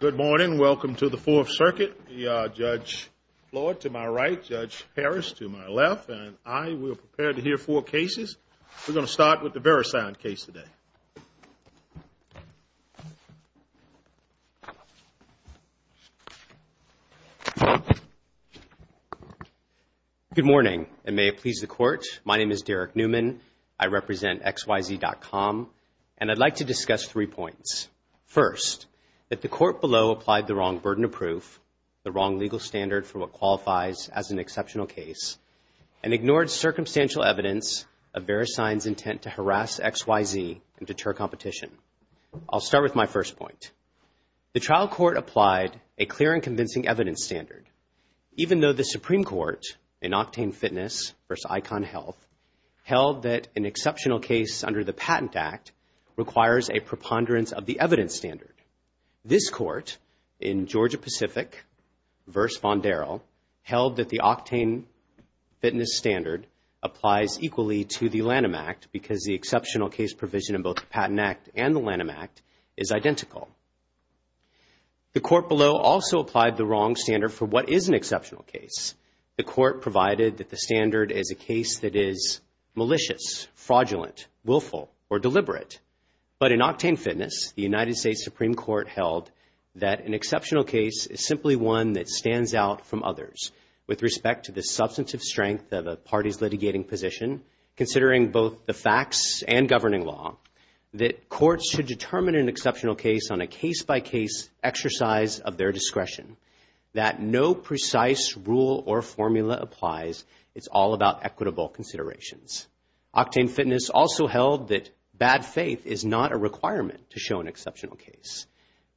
Good morning. Welcome to the Fourth Circuit. We are Judge Floyd to my right, Judge Harris to my left, and I will prepare to hear four cases. We're going to start with the VeriSign case today. Good morning, and may it please the Court. My name is Derek Newman. I represent XYZ.COM, and I'd like to discuss three points. First, that the Court below applied the wrong burden of proof, the wrong legal standard for what qualifies as an exceptional case, and ignored circumstantial evidence of VeriSign's intent to harass XYZ and deter competition. I'll start with my first point. The trial court applied a clear and convincing evidence standard, even though the Supreme Court in Octane Fitness v. Icon Health held that an exceptional case under the Patent Act requires a preponderance of the evidence standard. This Court in Georgia Pacific v. Von Daryl held that the Octane Fitness standard applies equally to the Lanham Act because the exceptional case provision in both the Patent Act and the Lanham Act is identical. The Court below also applied the wrong standard for what is an exceptional case. The Court provided that the standard is a case that is malicious, fraudulent, willful, or deliberate, but in Octane Fitness, the United States Supreme Court held that an exceptional case is simply one that stands out from others with respect to the substantive strength of a party's litigating position, considering both the facts and governing law, that courts should determine an exceptional case on a case-by-case exercise of their discretion, that no precise rule or formula applies. It's all about equitable considerations. Octane Fitness also held that bad faith is not a requirement to show an exceptional case.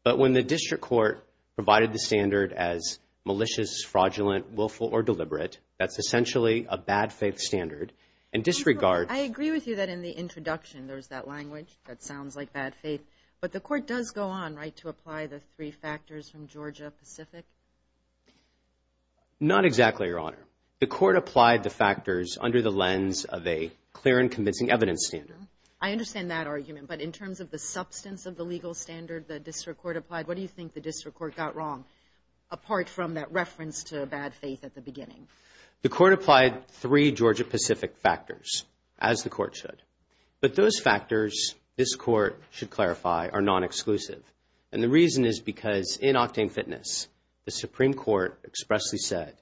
But when the District Court provided the standard as malicious, fraudulent, willful, or deliberate, that's essentially a bad faith standard, and disregards- I agree with you that in the introduction, there's that language that sounds like bad faith. Not exactly, Your Honor. The Court applied the factors under the lens of a clear and convincing evidence standard. I understand that argument, but in terms of the substance of the legal standard the District Court applied, what do you think the District Court got wrong, apart from that reference to bad faith at the beginning? The Court applied three Georgia-Pacific factors, as the Court should. But those factors, this Court should clarify, are non-exclusive. And the reason is because in Octane Fitness, the Supreme Court expressly said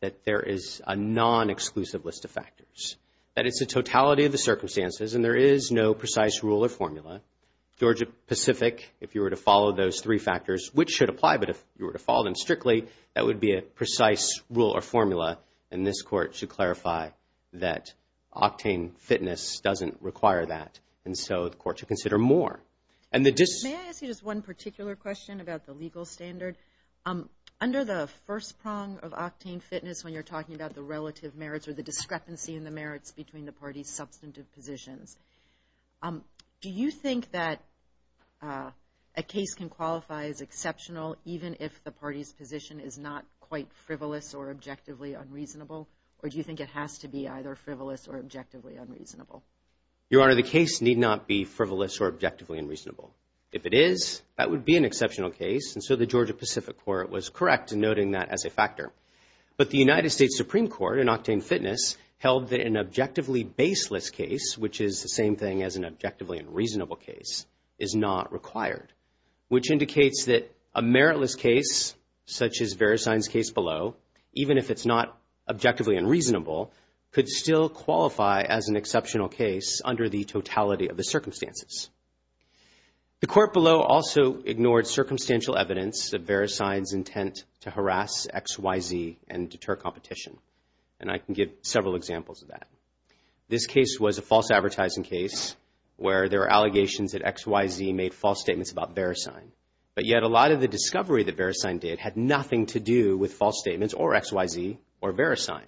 that there is a non-exclusive list of factors. That it's a totality of the circumstances, and there is no precise rule or formula. Georgia-Pacific, if you were to follow those three factors, which should apply, but if you were to follow them strictly, that would be a precise rule or formula, and this Court should clarify that Octane Fitness doesn't require that, and so the Court should consider more. May I ask you just one particular question about the legal standard? Under the first prong of Octane Fitness, when you're talking about the relative merits or the discrepancy in the merits between the parties' substantive positions, do you think that a case can qualify as exceptional even if the party's position is not quite frivolous or objectively unreasonable, or do you think it has to be either frivolous or objectively unreasonable? Your Honor, the case need not be frivolous or objectively unreasonable. If it is, that would be an exceptional case, and so the Georgia-Pacific Court was correct in noting that as a factor. But the United States Supreme Court in Octane Fitness held that an objectively baseless case, which is the same thing as an objectively unreasonable case, is not required, which indicates that a meritless case, such as Verisign's case below, even if it's not objectively unreasonable, could still qualify as an exceptional case under the totality of the circumstances. The court below also ignored circumstantial evidence of Verisign's intent to harass XYZ and deter competition, and I can give several examples of that. This case was a false advertising case where there were allegations that XYZ made false statements about Verisign, but yet a lot of the discovery that Verisign did had nothing to do with false statements or XYZ or Verisign.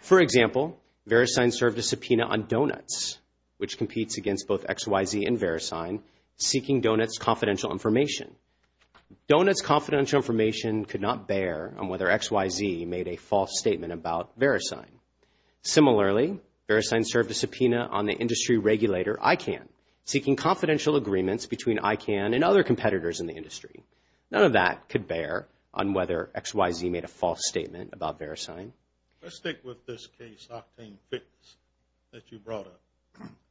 For example, Verisign served a subpoena on Donuts, which competes against both XYZ and Verisign, seeking Donuts' confidential information. Donuts' confidential information could not bear on whether XYZ made a false statement about Verisign. Similarly, Verisign served a subpoena on the industry regulator ICANN, seeking confidential agreements between ICANN and other competitors in the industry. None of that could bear on whether XYZ made a false statement about Verisign. Let's stick with this case, Octane Fix, that you brought up.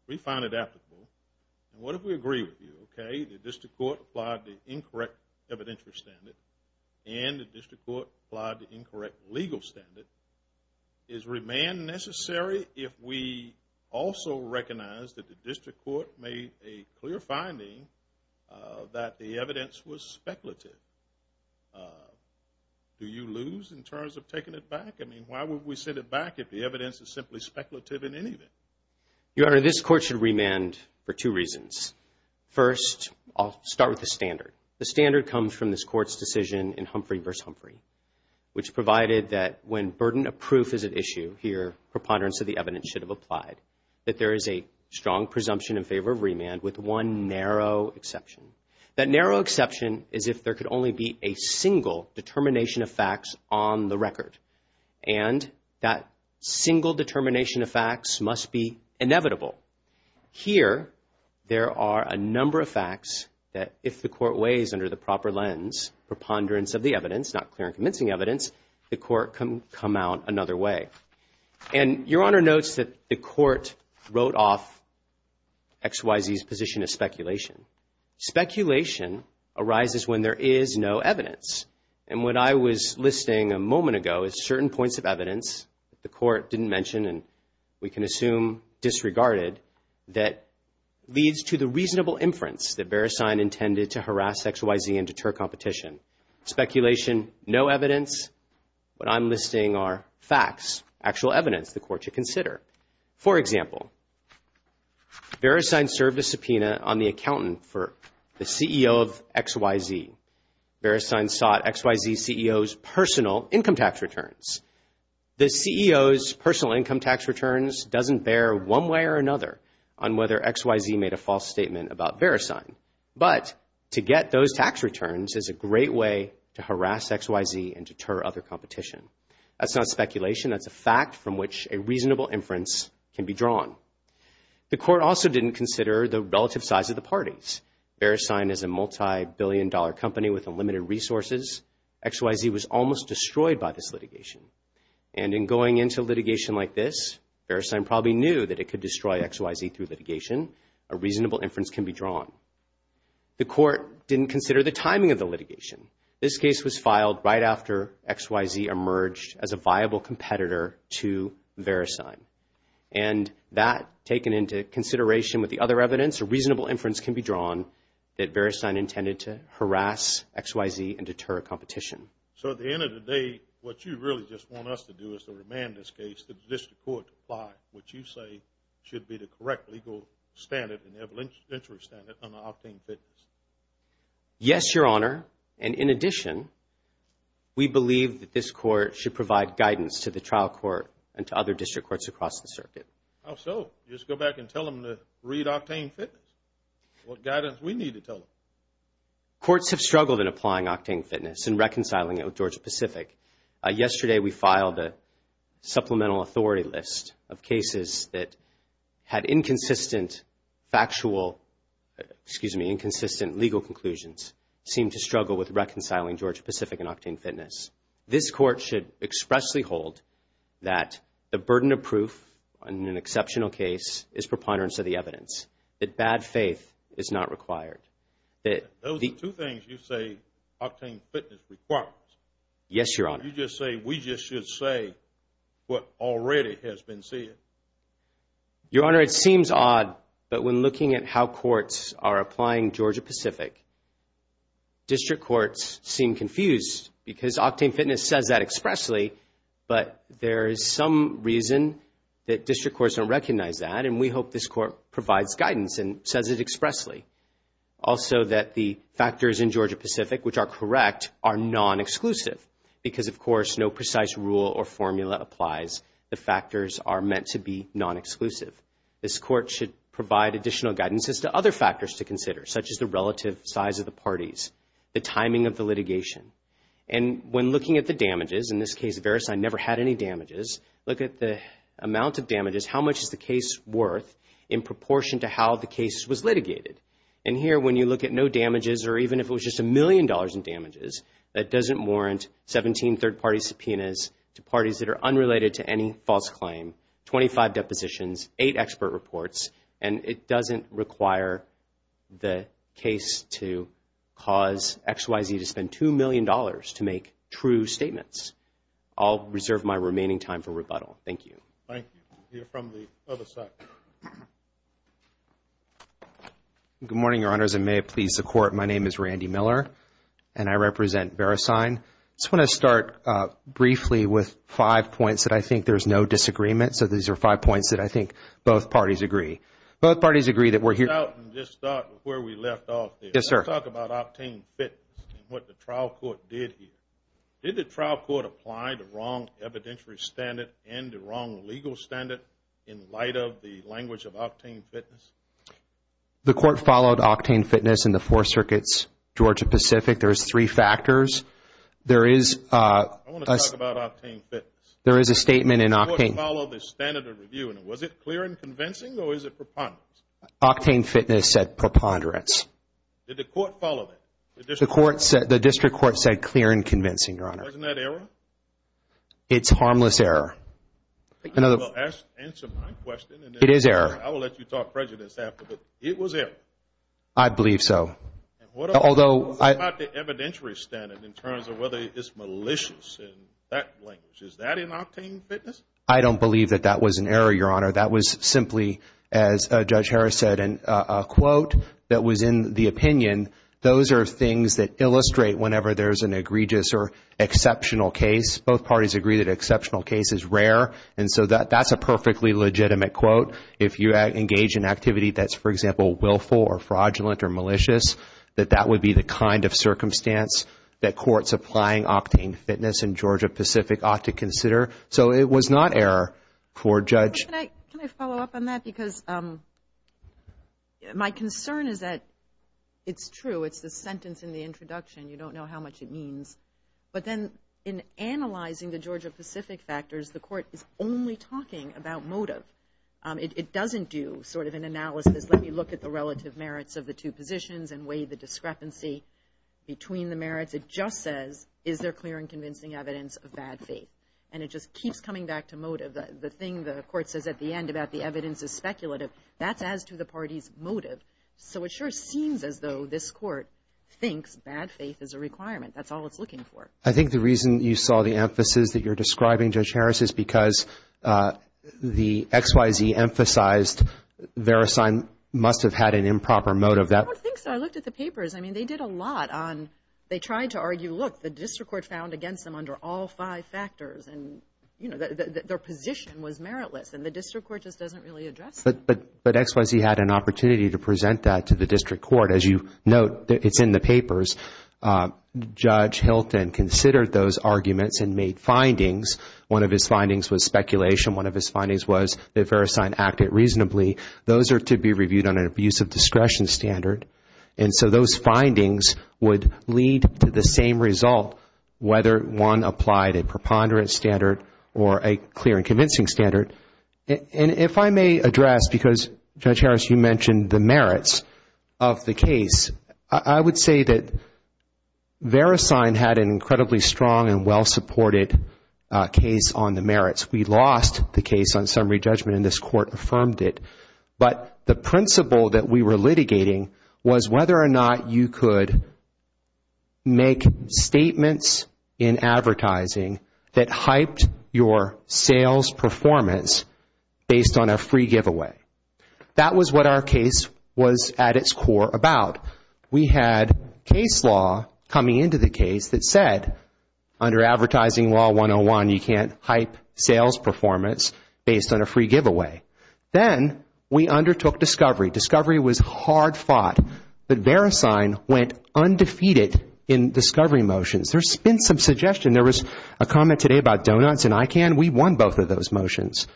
We find it applicable, and what if we agree with you, okay, the district court applied the incorrect evidentiary standard and the district court applied the incorrect legal standard. Is remand necessary if we also recognize that the district court made a clear finding that the evidence was speculative? Do you lose in terms of taking it back? I mean, why would we set it back if the evidence is simply speculative in any event? Your Honor, this court should remand for two reasons. First, I'll start with the standard. The standard comes from this court's decision in Humphrey v. Humphrey, which provided that when burden of proof is at issue here, preponderance of the evidence should have applied, that there is a strong presumption in favor of remand with one narrow exception. That narrow exception is if there could only be a single determination of facts on the record, and that single determination of facts must be inevitable. Here, there are a number of facts that if the court weighs under the proper lens, preponderance of the evidence, not clear and convincing evidence, the court can come out another way. And Your Honor notes that the court wrote off X, Y, Z's position as speculation. Speculation arises when there is no evidence. And what I was listing a moment ago is certain points of evidence that the court didn't mention and we can assume disregarded that leads to the reasonable inference that Beresign intended to harass X, Y, Z and deter competition. Speculation, no evidence. What I'm listing are facts, actual evidence the court should consider. For example, Beresign served a subpoena on the accountant for the CEO of X, Y, Z. Beresign sought X, Y, Z CEO's personal income tax returns. The CEO's personal income tax returns doesn't bear one way or another on whether X, Y, Z made a false statement about Beresign. But to get those tax returns is a great way to harass X, Y, Z and deter other competition. That's not speculation. That's a fact from which a reasonable inference can be drawn. The court also didn't consider the relative size of the parties. Beresign is a multi-billion dollar company with unlimited resources. X, Y, Z was almost destroyed by this litigation. And in going into litigation like this, Beresign probably knew that it could destroy X, Y, Z through litigation, a reasonable inference can be drawn. The court didn't consider the timing of the litigation. This case was filed right after X, Y, Z emerged as a viable competitor to Beresign. And that taken into consideration with the other evidence, a reasonable inference can be drawn that Beresign intended to harass X, Y, Z and deter competition. So at the end of the day, what you really just want us to do is to remand this case to the district court to apply what you say should be the correct legal standard and evidentiary standard on octane fitness. Yes, Your Honor. And in addition, we believe that this court should provide guidance to the trial court and to other district courts across the circuit. How so? You just go back and tell them to read octane fitness? What guidance we need to tell them? Courts have struggled in applying octane fitness and reconciling it with Georgia-Pacific. Yesterday, we filed a supplemental authority list of cases that had inconsistent factual, excuse me, inconsistent legal conclusions, seemed to struggle with reconciling Georgia-Pacific and octane fitness. This court should expressly hold that the burden of proof on an exceptional case is preponderance of the evidence, that bad faith is not required. Those are two things you say octane fitness requires. Yes, Your Honor. You just say we just should say what already has been said. Your Honor, it seems odd, but when looking at how courts are applying Georgia-Pacific, district courts seem confused because octane fitness says that expressly, but there is some reason that district courts don't recognize that, and we hope this court provides guidance and says it expressly. Also, that the factors in Georgia-Pacific, which are correct, are non-exclusive because, of course, no precise rule or formula applies. The factors are meant to be non-exclusive. This court should provide additional guidance as to other factors to consider, such as the relative size of the parties, the timing of the litigation, and when looking at the damages, in this case, Verisign never had any damages, look at the amount of damages, how much is the case worth in proportion to how the case was litigated, and here when you look at no damages or even if it was just a million dollars in damages, that doesn't warrant 17 third party subpoenas to parties that are unrelated to any false claim, 25 depositions, 8 expert reports, and it doesn't require the case to cause XYZ to spend $2 million to make true statements. I'll reserve my remaining time for rebuttal. Thank you. Thank you. We'll hear from the other side. Good morning, Your Honors, and may it please the Court, my name is Randy Miller, and I represent Verisign. I just want to start briefly with five points that I think there's no disagreement, so these are five points that I think both parties agree. Both parties agree that we're here- Let's start where we left off there. Yes, sir. Let's talk about obtaining fitness and what the trial court did here. Did the trial court apply the wrong evidentiary standard and the wrong legal standard in light of the language of octane fitness? The court followed octane fitness in the four circuits, Georgia-Pacific. There's three factors. There is- I want to talk about octane fitness. There is a statement in octane- Did the court follow the standard of review, and was it clear and convincing, or is it preponderance? Octane fitness said preponderance. Did the court follow that? The district court said clear and convincing, Your Honor. Wasn't that error? It's harmless error. Answer my question. It is error. I will let you talk prejudice after, but it was error. I believe so. Although- What about the evidentiary standard in terms of whether it's malicious in that language? Is that in octane fitness? I don't believe that that was an error, Your Honor. That was simply, as Judge Harris said, a quote that was in the opinion. Those are things that illustrate whenever there's an egregious or exceptional case. Both parties agree that exceptional case is rare, and so that's a perfectly legitimate quote. If you engage in activity that's, for example, willful or fraudulent or malicious, that that would be the kind of circumstance that courts applying octane fitness in Georgia-Pacific ought to consider. So, it was not error for Judge- Can I follow up on that? Because my concern is that it's true. It's the sentence in the introduction. You don't know how much it means, but then in analyzing the Georgia-Pacific factors, the court is only talking about motive. It doesn't do sort of an analysis. Let me look at the relative merits of the two positions and weigh the discrepancy between the merits. It just says, is there clear and convincing evidence of bad faith? And it just keeps coming back to motive. The thing the court says at the end about the evidence is speculative, that's as to the party's motive. So, it sure seems as though this court thinks bad faith is a requirement. That's all it's looking for. I think the reason you saw the emphasis that you're describing, Judge Harris, is because the XYZ emphasized Verisign must have had an improper motive. I don't think so. I looked at the papers. I mean, they did a lot on, they tried to argue, look, the district court found against them under all five factors and, you know, their position was meritless and the district court just doesn't really address that. But XYZ had an opportunity to present that to the district court. As you note, it's in the papers. Judge Hilton considered those arguments and made findings. One of his findings was speculation. One of his findings was that Verisign acted reasonably. Those are to be reviewed on an abuse of discretion standard. And so, those findings would lead to the same result whether one applied a preponderance standard or a clear and convincing standard. And if I may address, because, Judge Harris, you mentioned the merits of the case, I would say that Verisign had an incredibly strong and well-supported case on the merits. We lost the case on summary judgment and this court affirmed it. But the principle that we were litigating was whether or not you could make statements in advertising that hyped your sales performance based on a free giveaway. That was what our case was at its core about. We had case law coming into the case that said, under Advertising Law 101, you can't hype sales performance based on a free giveaway. Then, we undertook discovery. Discovery was hard fought. But Verisign went undefeated in discovery motions. There's been some suggestion. There was a comment today about Donuts and ICANN. We won both of those motions.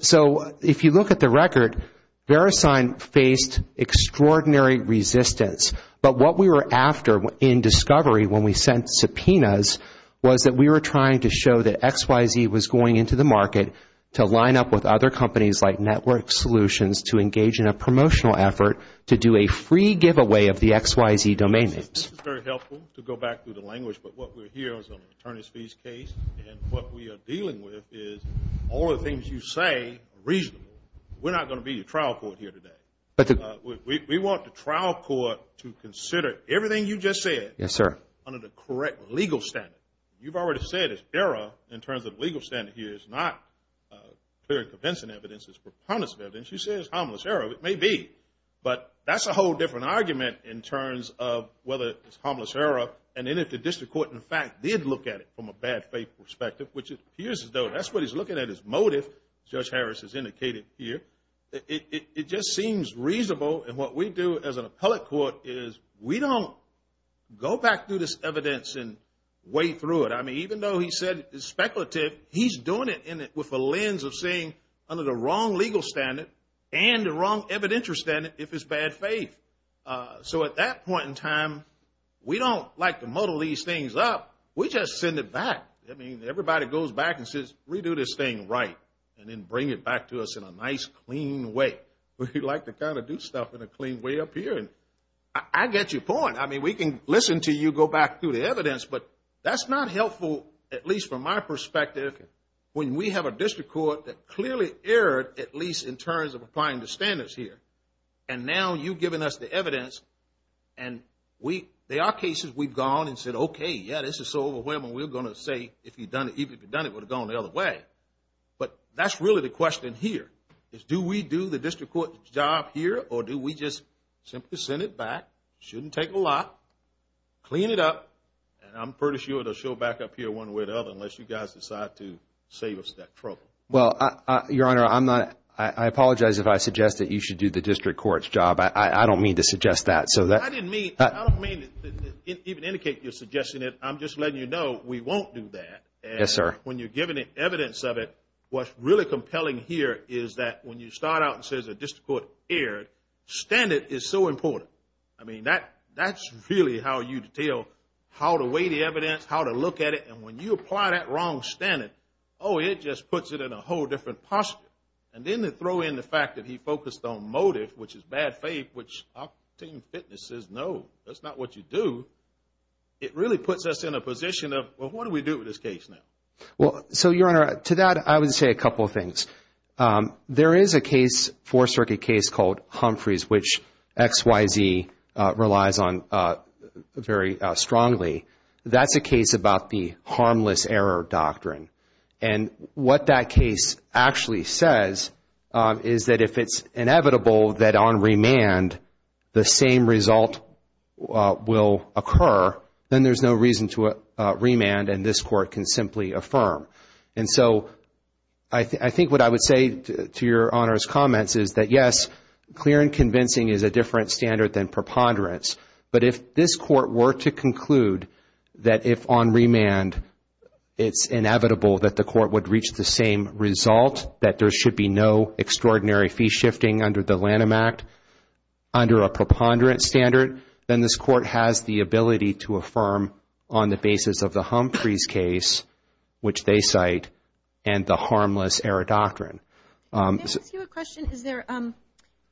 So, if you look at the record, Verisign faced extraordinary resistance. But what we were after in discovery when we sent subpoenas was that we were trying to show that XYZ was going into the market to line up with other companies like Network Solutions to engage in a promotional effort to do a free giveaway of the XYZ domain names. This is very helpful to go back to the language. But what we're here is an attorney's fees case and what we are dealing with is all the things you say are reasonable. We're not going to be your trial court here today. We want the trial court to consider everything you just said under the correct legal standard. You've already said it's error in terms of legal standard here. It's not clear and convincing evidence. It's preponderance of evidence. You say it's harmless error. It may be. But that's a whole different argument in terms of whether it's harmless error and then if the district court, in fact, did look at it from a bad faith perspective, which it appears as though that's what he's looking at is motive, Judge Harris has indicated here. It just seems reasonable and what we do as an appellate court is we don't go back through this evidence and weigh through it. I mean, even though he said it's speculative, he's doing it with a lens of seeing under the wrong legal standard and the wrong evidential standard if it's bad faith. So at that point in time, we don't like to muddle these things up. We just send it back. I mean, everybody goes back and says, redo this thing right and then bring it back to us in a nice, clean way. We like to kind of do stuff in a clean way up here and I get your point. I mean, we can listen to you, go back through the evidence, but that's not helpful, at least from my perspective, when we have a district court that clearly erred, at least in terms of applying the standards here. And now you've given us the evidence and there are cases we've gone and said, okay, yeah, this is so overwhelming, we're going to say if you'd done it, even if you'd done it, it would have gone the other way. But that's really the question here is do we do the district court's job here or do we just simply send it back? Shouldn't take a lot, clean it up, and I'm pretty sure it'll show back up here one way or the other unless you guys decide to save us that trouble. Well, Your Honor, I apologize if I suggest that you should do the district court's job. I don't mean to suggest that. I didn't mean, I don't mean to even indicate you're suggesting it. I'm just letting you know we won't do that. Yes, sir. When you're giving evidence of it, what's really compelling here is that when you start out and says a district court erred, standard is so important. I mean, that's really how you detail how to weigh the evidence, how to look at it, and when you apply that wrong standard, oh, it just puts it in a whole different posture. And then to throw in the fact that he focused on motive, which is bad faith, which our team fitness says no, that's not what you do, it really puts us in a position of, well, what do we do with this case now? Well, so, Your Honor, to that, I would say a couple of things. There is a case, a Fourth Circuit case called Humphreys, which XYZ relies on very strongly. That's a case about the harmless error doctrine. And what that case actually says is that if it's inevitable that on remand the same result will occur, then there's no reason to remand and this court can simply affirm. And so, I think what I would say to Your Honor's comments is that yes, clear and convincing is a different standard than preponderance. But if this court were to conclude that if on remand it's inevitable that the court would reach the same result, that there should be no extraordinary fee shifting under the Lanham Act, under a preponderance standard, then this court has the ability to affirm on the case site and the harmless error doctrine. Can I ask you a question? Is there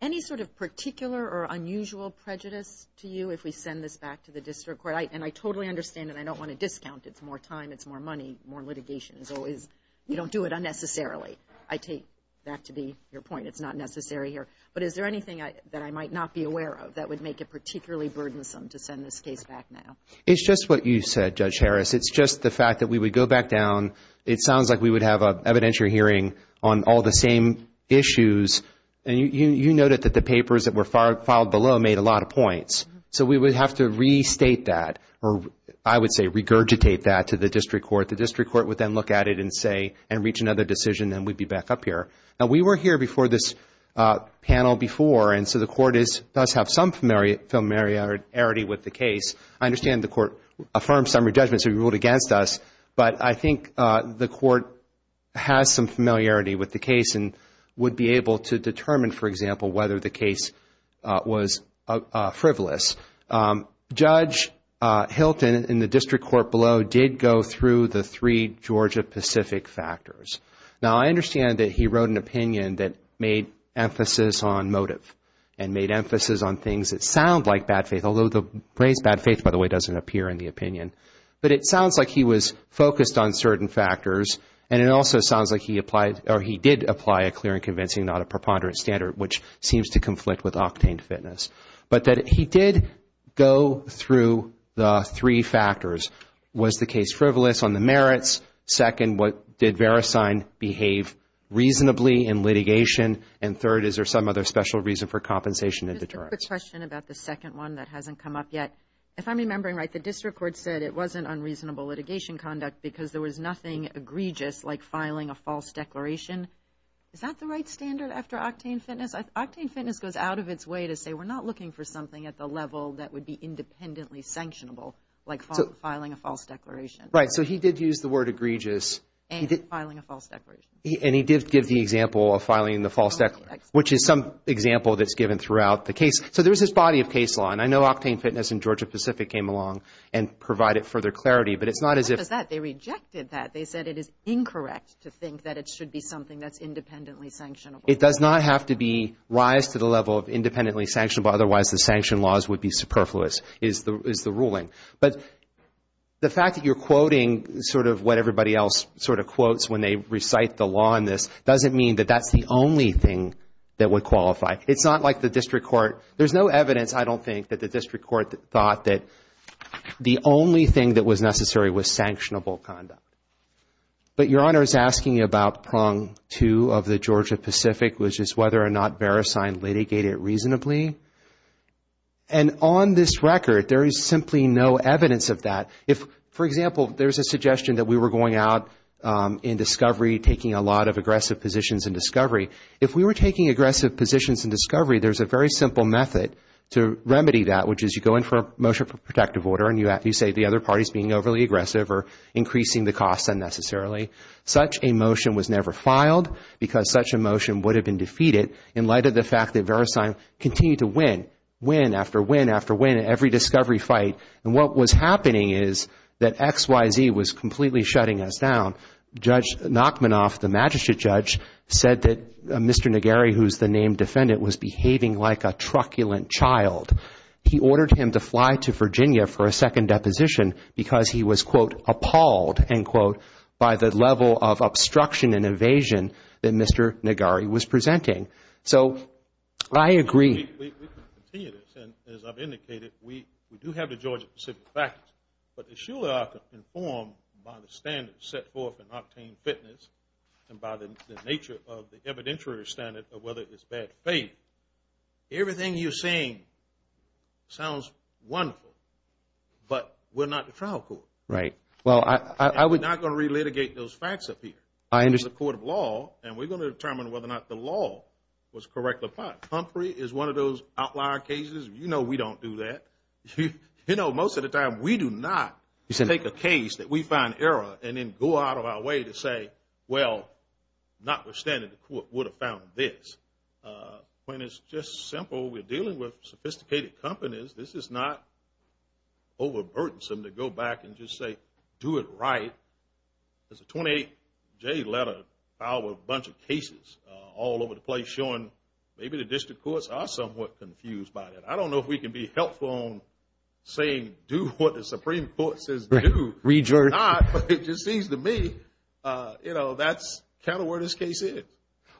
any sort of particular or unusual prejudice to you if we send this back to the district court? And I totally understand that I don't want to discount. It's more time. It's more money. More litigation is always, you don't do it unnecessarily. I take that to be your point. It's not necessary here. But is there anything that I might not be aware of that would make it particularly burdensome to send this case back now? It's just what you said, Judge Harris. It's just the fact that we would go back down. It sounds like we would have an evidentiary hearing on all the same issues. And you noted that the papers that were filed below made a lot of points. So we would have to restate that, or I would say regurgitate that to the district court. The district court would then look at it and say, and reach another decision, then we'd be back up here. Now, we were here before this panel before. And so the court does have some familiarity with the case. I understand the court affirms summary judgment. So we ruled against us. But I think the court has some familiarity with the case and would be able to determine, for example, whether the case was frivolous. Judge Hilton in the district court below did go through the three Georgia-Pacific factors. Now, I understand that he wrote an opinion that made emphasis on motive and made emphasis on things that sound like bad faith, although the phrase bad faith, by the way, doesn't appear in the opinion. But it sounds like he was focused on certain factors. And it also sounds like he did apply a clear and convincing, not a preponderant standard, which seems to conflict with octane fitness. But he did go through the three factors. Was the case frivolous on the merits? Second, did Verisign behave reasonably in litigation? And third, is there some other special reason for compensation and deterrence? Just a quick question about the second one that hasn't come up yet. If I'm remembering right, the district court said it wasn't unreasonable litigation conduct because there was nothing egregious like filing a false declaration. Is that the right standard after octane fitness? Octane fitness goes out of its way to say we're not looking for something at the level that would be independently sanctionable, like filing a false declaration. Right. So he did use the word egregious. And filing a false declaration. And he did give the example of filing the false declaration, which is some example that's given throughout the case. So there's this body of case law. And I know octane fitness in Georgia-Pacific came along and provided further clarity. But it's not as if… Not just that. They rejected that. They said it is incorrect to think that it should be something that's independently sanctionable. It does not have to be rised to the level of independently sanctionable. Otherwise, the sanction laws would be superfluous, is the ruling. But the fact that you're quoting sort of what everybody else sort of quotes when they recite the law in this doesn't mean that that's the only thing that would qualify. It's not like the district court. There's no evidence, I don't think, that the district court thought that the only thing that was necessary was sanctionable conduct. But Your Honor is asking about prong two of the Georgia-Pacific, which is whether or not Beresine litigated reasonably. And on this record, there is simply no evidence of that. If, for example, there's a suggestion that we were going out in discovery, taking a lot of aggressive positions in discovery. If we were taking aggressive positions in discovery, there's a very simple method to remedy that, which is you go in for a motion for protective order and you say the other party is being overly aggressive or increasing the cost unnecessarily. Such a motion was never filed because such a motion would have been defeated in light of the fact that Beresine continued to win, win after win after win in every discovery fight. And what was happening is that XYZ was completely shutting us down. Judge Nachmanoff, the magistrate judge, said that Mr. Negari, who's the named defendant, was behaving like a truculent child. He ordered him to fly to Virginia for a second deposition because he was, quote, appalled, end quote, by the level of obstruction and invasion that Mr. Negari was presenting. So I agree. We can continue this. And as I've indicated, we do have the Georgia-Pacific factors. But as you are informed by the standards set forth in Octane Fitness and by the nature of the evidentiary standard of whether it's bad faith, everything you're saying sounds wonderful. But we're not the trial court. Right. Well, I was not going to relitigate those facts up here. I understand. This is a court of law. And we're going to determine whether or not the law was correctly filed. Humphrey is one of those outlier cases. You know we don't do that. You know, most of the time, we do not take a case that we find error and then go out of our way to say, well, notwithstanding the court would have found this. When it's just simple, we're dealing with sophisticated companies. This is not overburdensome to go back and just say, do it right. There's a 28-J letter filed with a bunch of cases all over the place showing maybe the district courts are somewhat confused by that. I don't know if we can be helpful in saying do what the Supreme Court says to do. Read Georgia. Not, but it just seems to me, you know, that's kind of where this case is.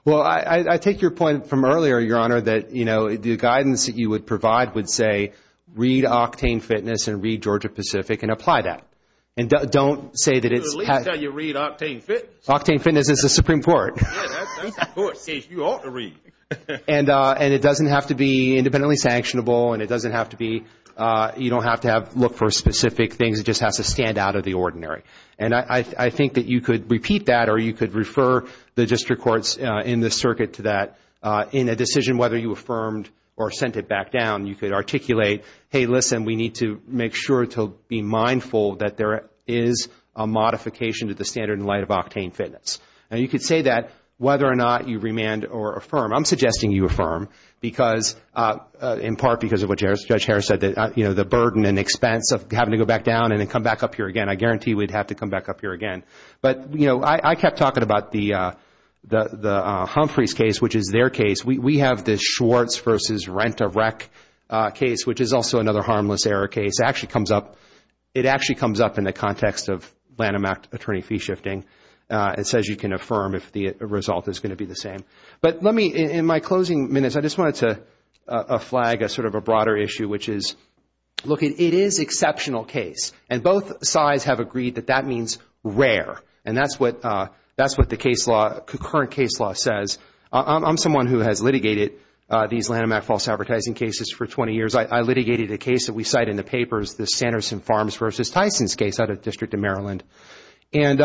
Well, I take your point from earlier, Your Honor, that, you know, the guidance that you would provide would say read Octane Fitness and read Georgia-Pacific and apply that. And don't say that it's— At least how you read Octane Fitness. Octane Fitness is the Supreme Court. Yeah, that's the court's case. You ought to read. And it doesn't have to be independently sanctionable. And it doesn't have to be—you don't have to have—look for specific things. It just has to stand out of the ordinary. And I think that you could repeat that or you could refer the district courts in the circuit to that. In a decision, whether you affirmed or sent it back down, you could articulate, hey, listen, we need to make sure to be mindful that there is a modification to the standard in light of Octane Fitness. And you could say that whether or not you remand or affirm. I'm suggesting you affirm because—in part because of what Judge Harris said that, you know, the burden and expense of having to go back down and then come back up here again. I guarantee we'd have to come back up here again. But, you know, I kept talking about the Humphreys case, which is their case. We have the Schwartz v. Rent-a-Rec case, which is also another harmless error case. It actually comes up in the context of Lanham Act attorney fee shifting. It says you can affirm if the result is going to be the same. But let me—in my closing minutes, I just wanted to flag a sort of a broader issue, which is, look, it is exceptional case. And both sides have agreed that that means rare. And that's what the case law—concurrent case law says. I'm someone who has litigated these Lanham Act false advertising cases for 20 years. I litigated a case that we cite in the papers, the Sanderson Farms v. Tyson's case out of the District of Maryland. And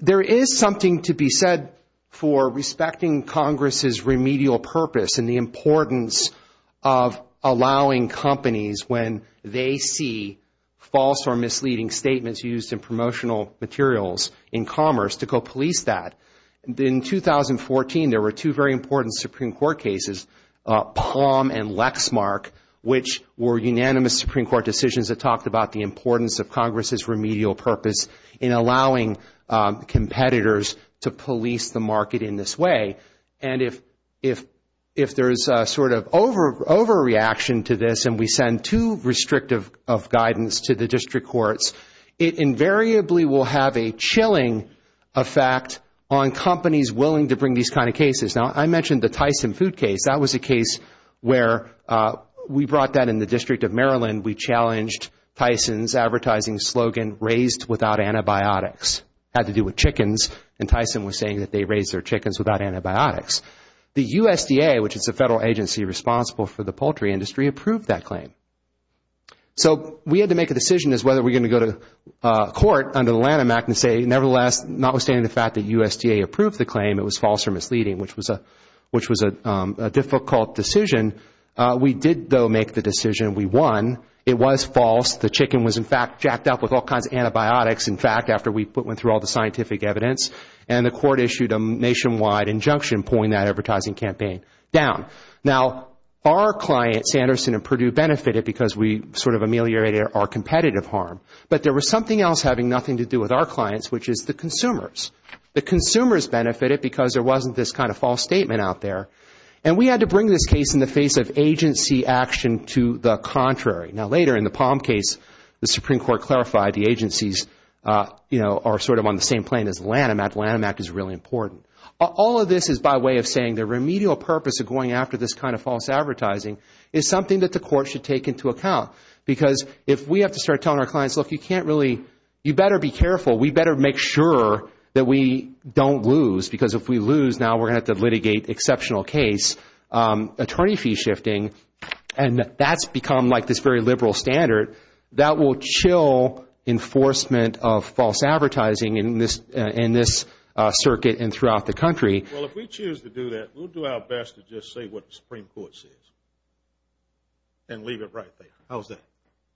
there is something to be said for respecting Congress' remedial purpose and the importance of allowing companies, when they see false or misleading statements used in promotional materials in commerce, to go police that. In 2014, there were two very important Supreme Court cases, Palm and Lexmark, which were unanimous Supreme Court decisions that talked about the importance of Congress' remedial purpose in allowing competitors to police the market in this way. And if there is a sort of overreaction to this and we send too restrictive of guidance to the district courts, it invariably will have a chilling effect on companies willing to bring these kind of cases. Now, I mentioned the Tyson food case. That was a case where we brought that in the District of Maryland. We challenged Tyson's advertising slogan, raised without antibiotics. It had to do with chickens and Tyson was saying that they raised their chickens without antibiotics. The USDA, which is a federal agency responsible for the poultry industry, approved that claim. So we had to make a decision as whether we are going to go to court under the Lanham Act and say, nevertheless, notwithstanding the fact that USDA approved the claim, it was false or misleading, which was a difficult decision. We did, though, make the decision. We won. It was false. The chicken was, in fact, jacked up with all kinds of antibiotics, in fact, after we went through all the scientific evidence. And the court issued a nationwide injunction pulling that advertising campaign down. Now, our clients, Sanderson and Purdue, benefited because we sort of ameliorated our competitive harm. But there was something else having nothing to do with our clients, which is the consumers. The consumers benefited because there wasn't this kind of false statement out there. And we had to bring this case in the face of agency action to the contrary. Now, later in the Palm case, the Supreme Court clarified the agencies are sort of on the same plane as Lanham Act. Lanham Act is really important. All of this is by way of saying the remedial purpose of going after this kind of false advertising is something that the court should take into account. Because if we have to start telling our clients, look, you better be careful. We better make sure that we don't lose. Because if we lose, now we're going to have to litigate exceptional case, attorney fee shifting. And that's become like this very liberal standard that will chill enforcement of false advertising in this circuit and throughout the country. Well, if we choose to do that, we'll do our best to just say what the Supreme Court says and leave it right there. How's that?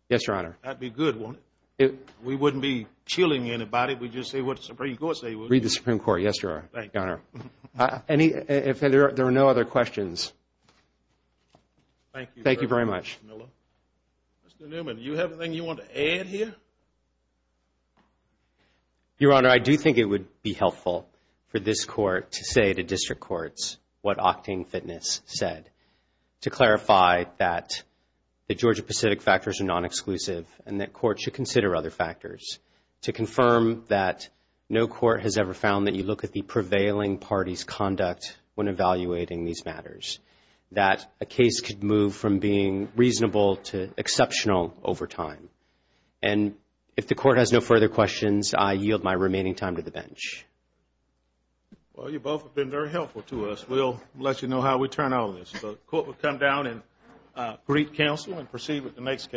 Yes, Your Honor. That'd be good, wouldn't it? We wouldn't be chilling anybody. We'd just say what the Supreme Court say. Read the Supreme Court. Yes, Your Honor. Your Honor, if there are no other questions. Thank you. Thank you very much. Mr. Newman, do you have anything you want to add here? Your Honor, I do think it would be helpful for this court to say to district courts what Octane Fitness said to clarify that the Georgia-Pacific factors are non-exclusive and that courts should consider other factors to confirm that no court has ever found that you look at the prevailing party's conduct when evaluating these matters, that a case could move from being reasonable to exceptional over time. And if the court has no further questions, I yield my remaining time to the bench. Well, you both have been very helpful to us. We'll let you know how we turn out on this. The court will come down and greet counsel and proceed with the next case.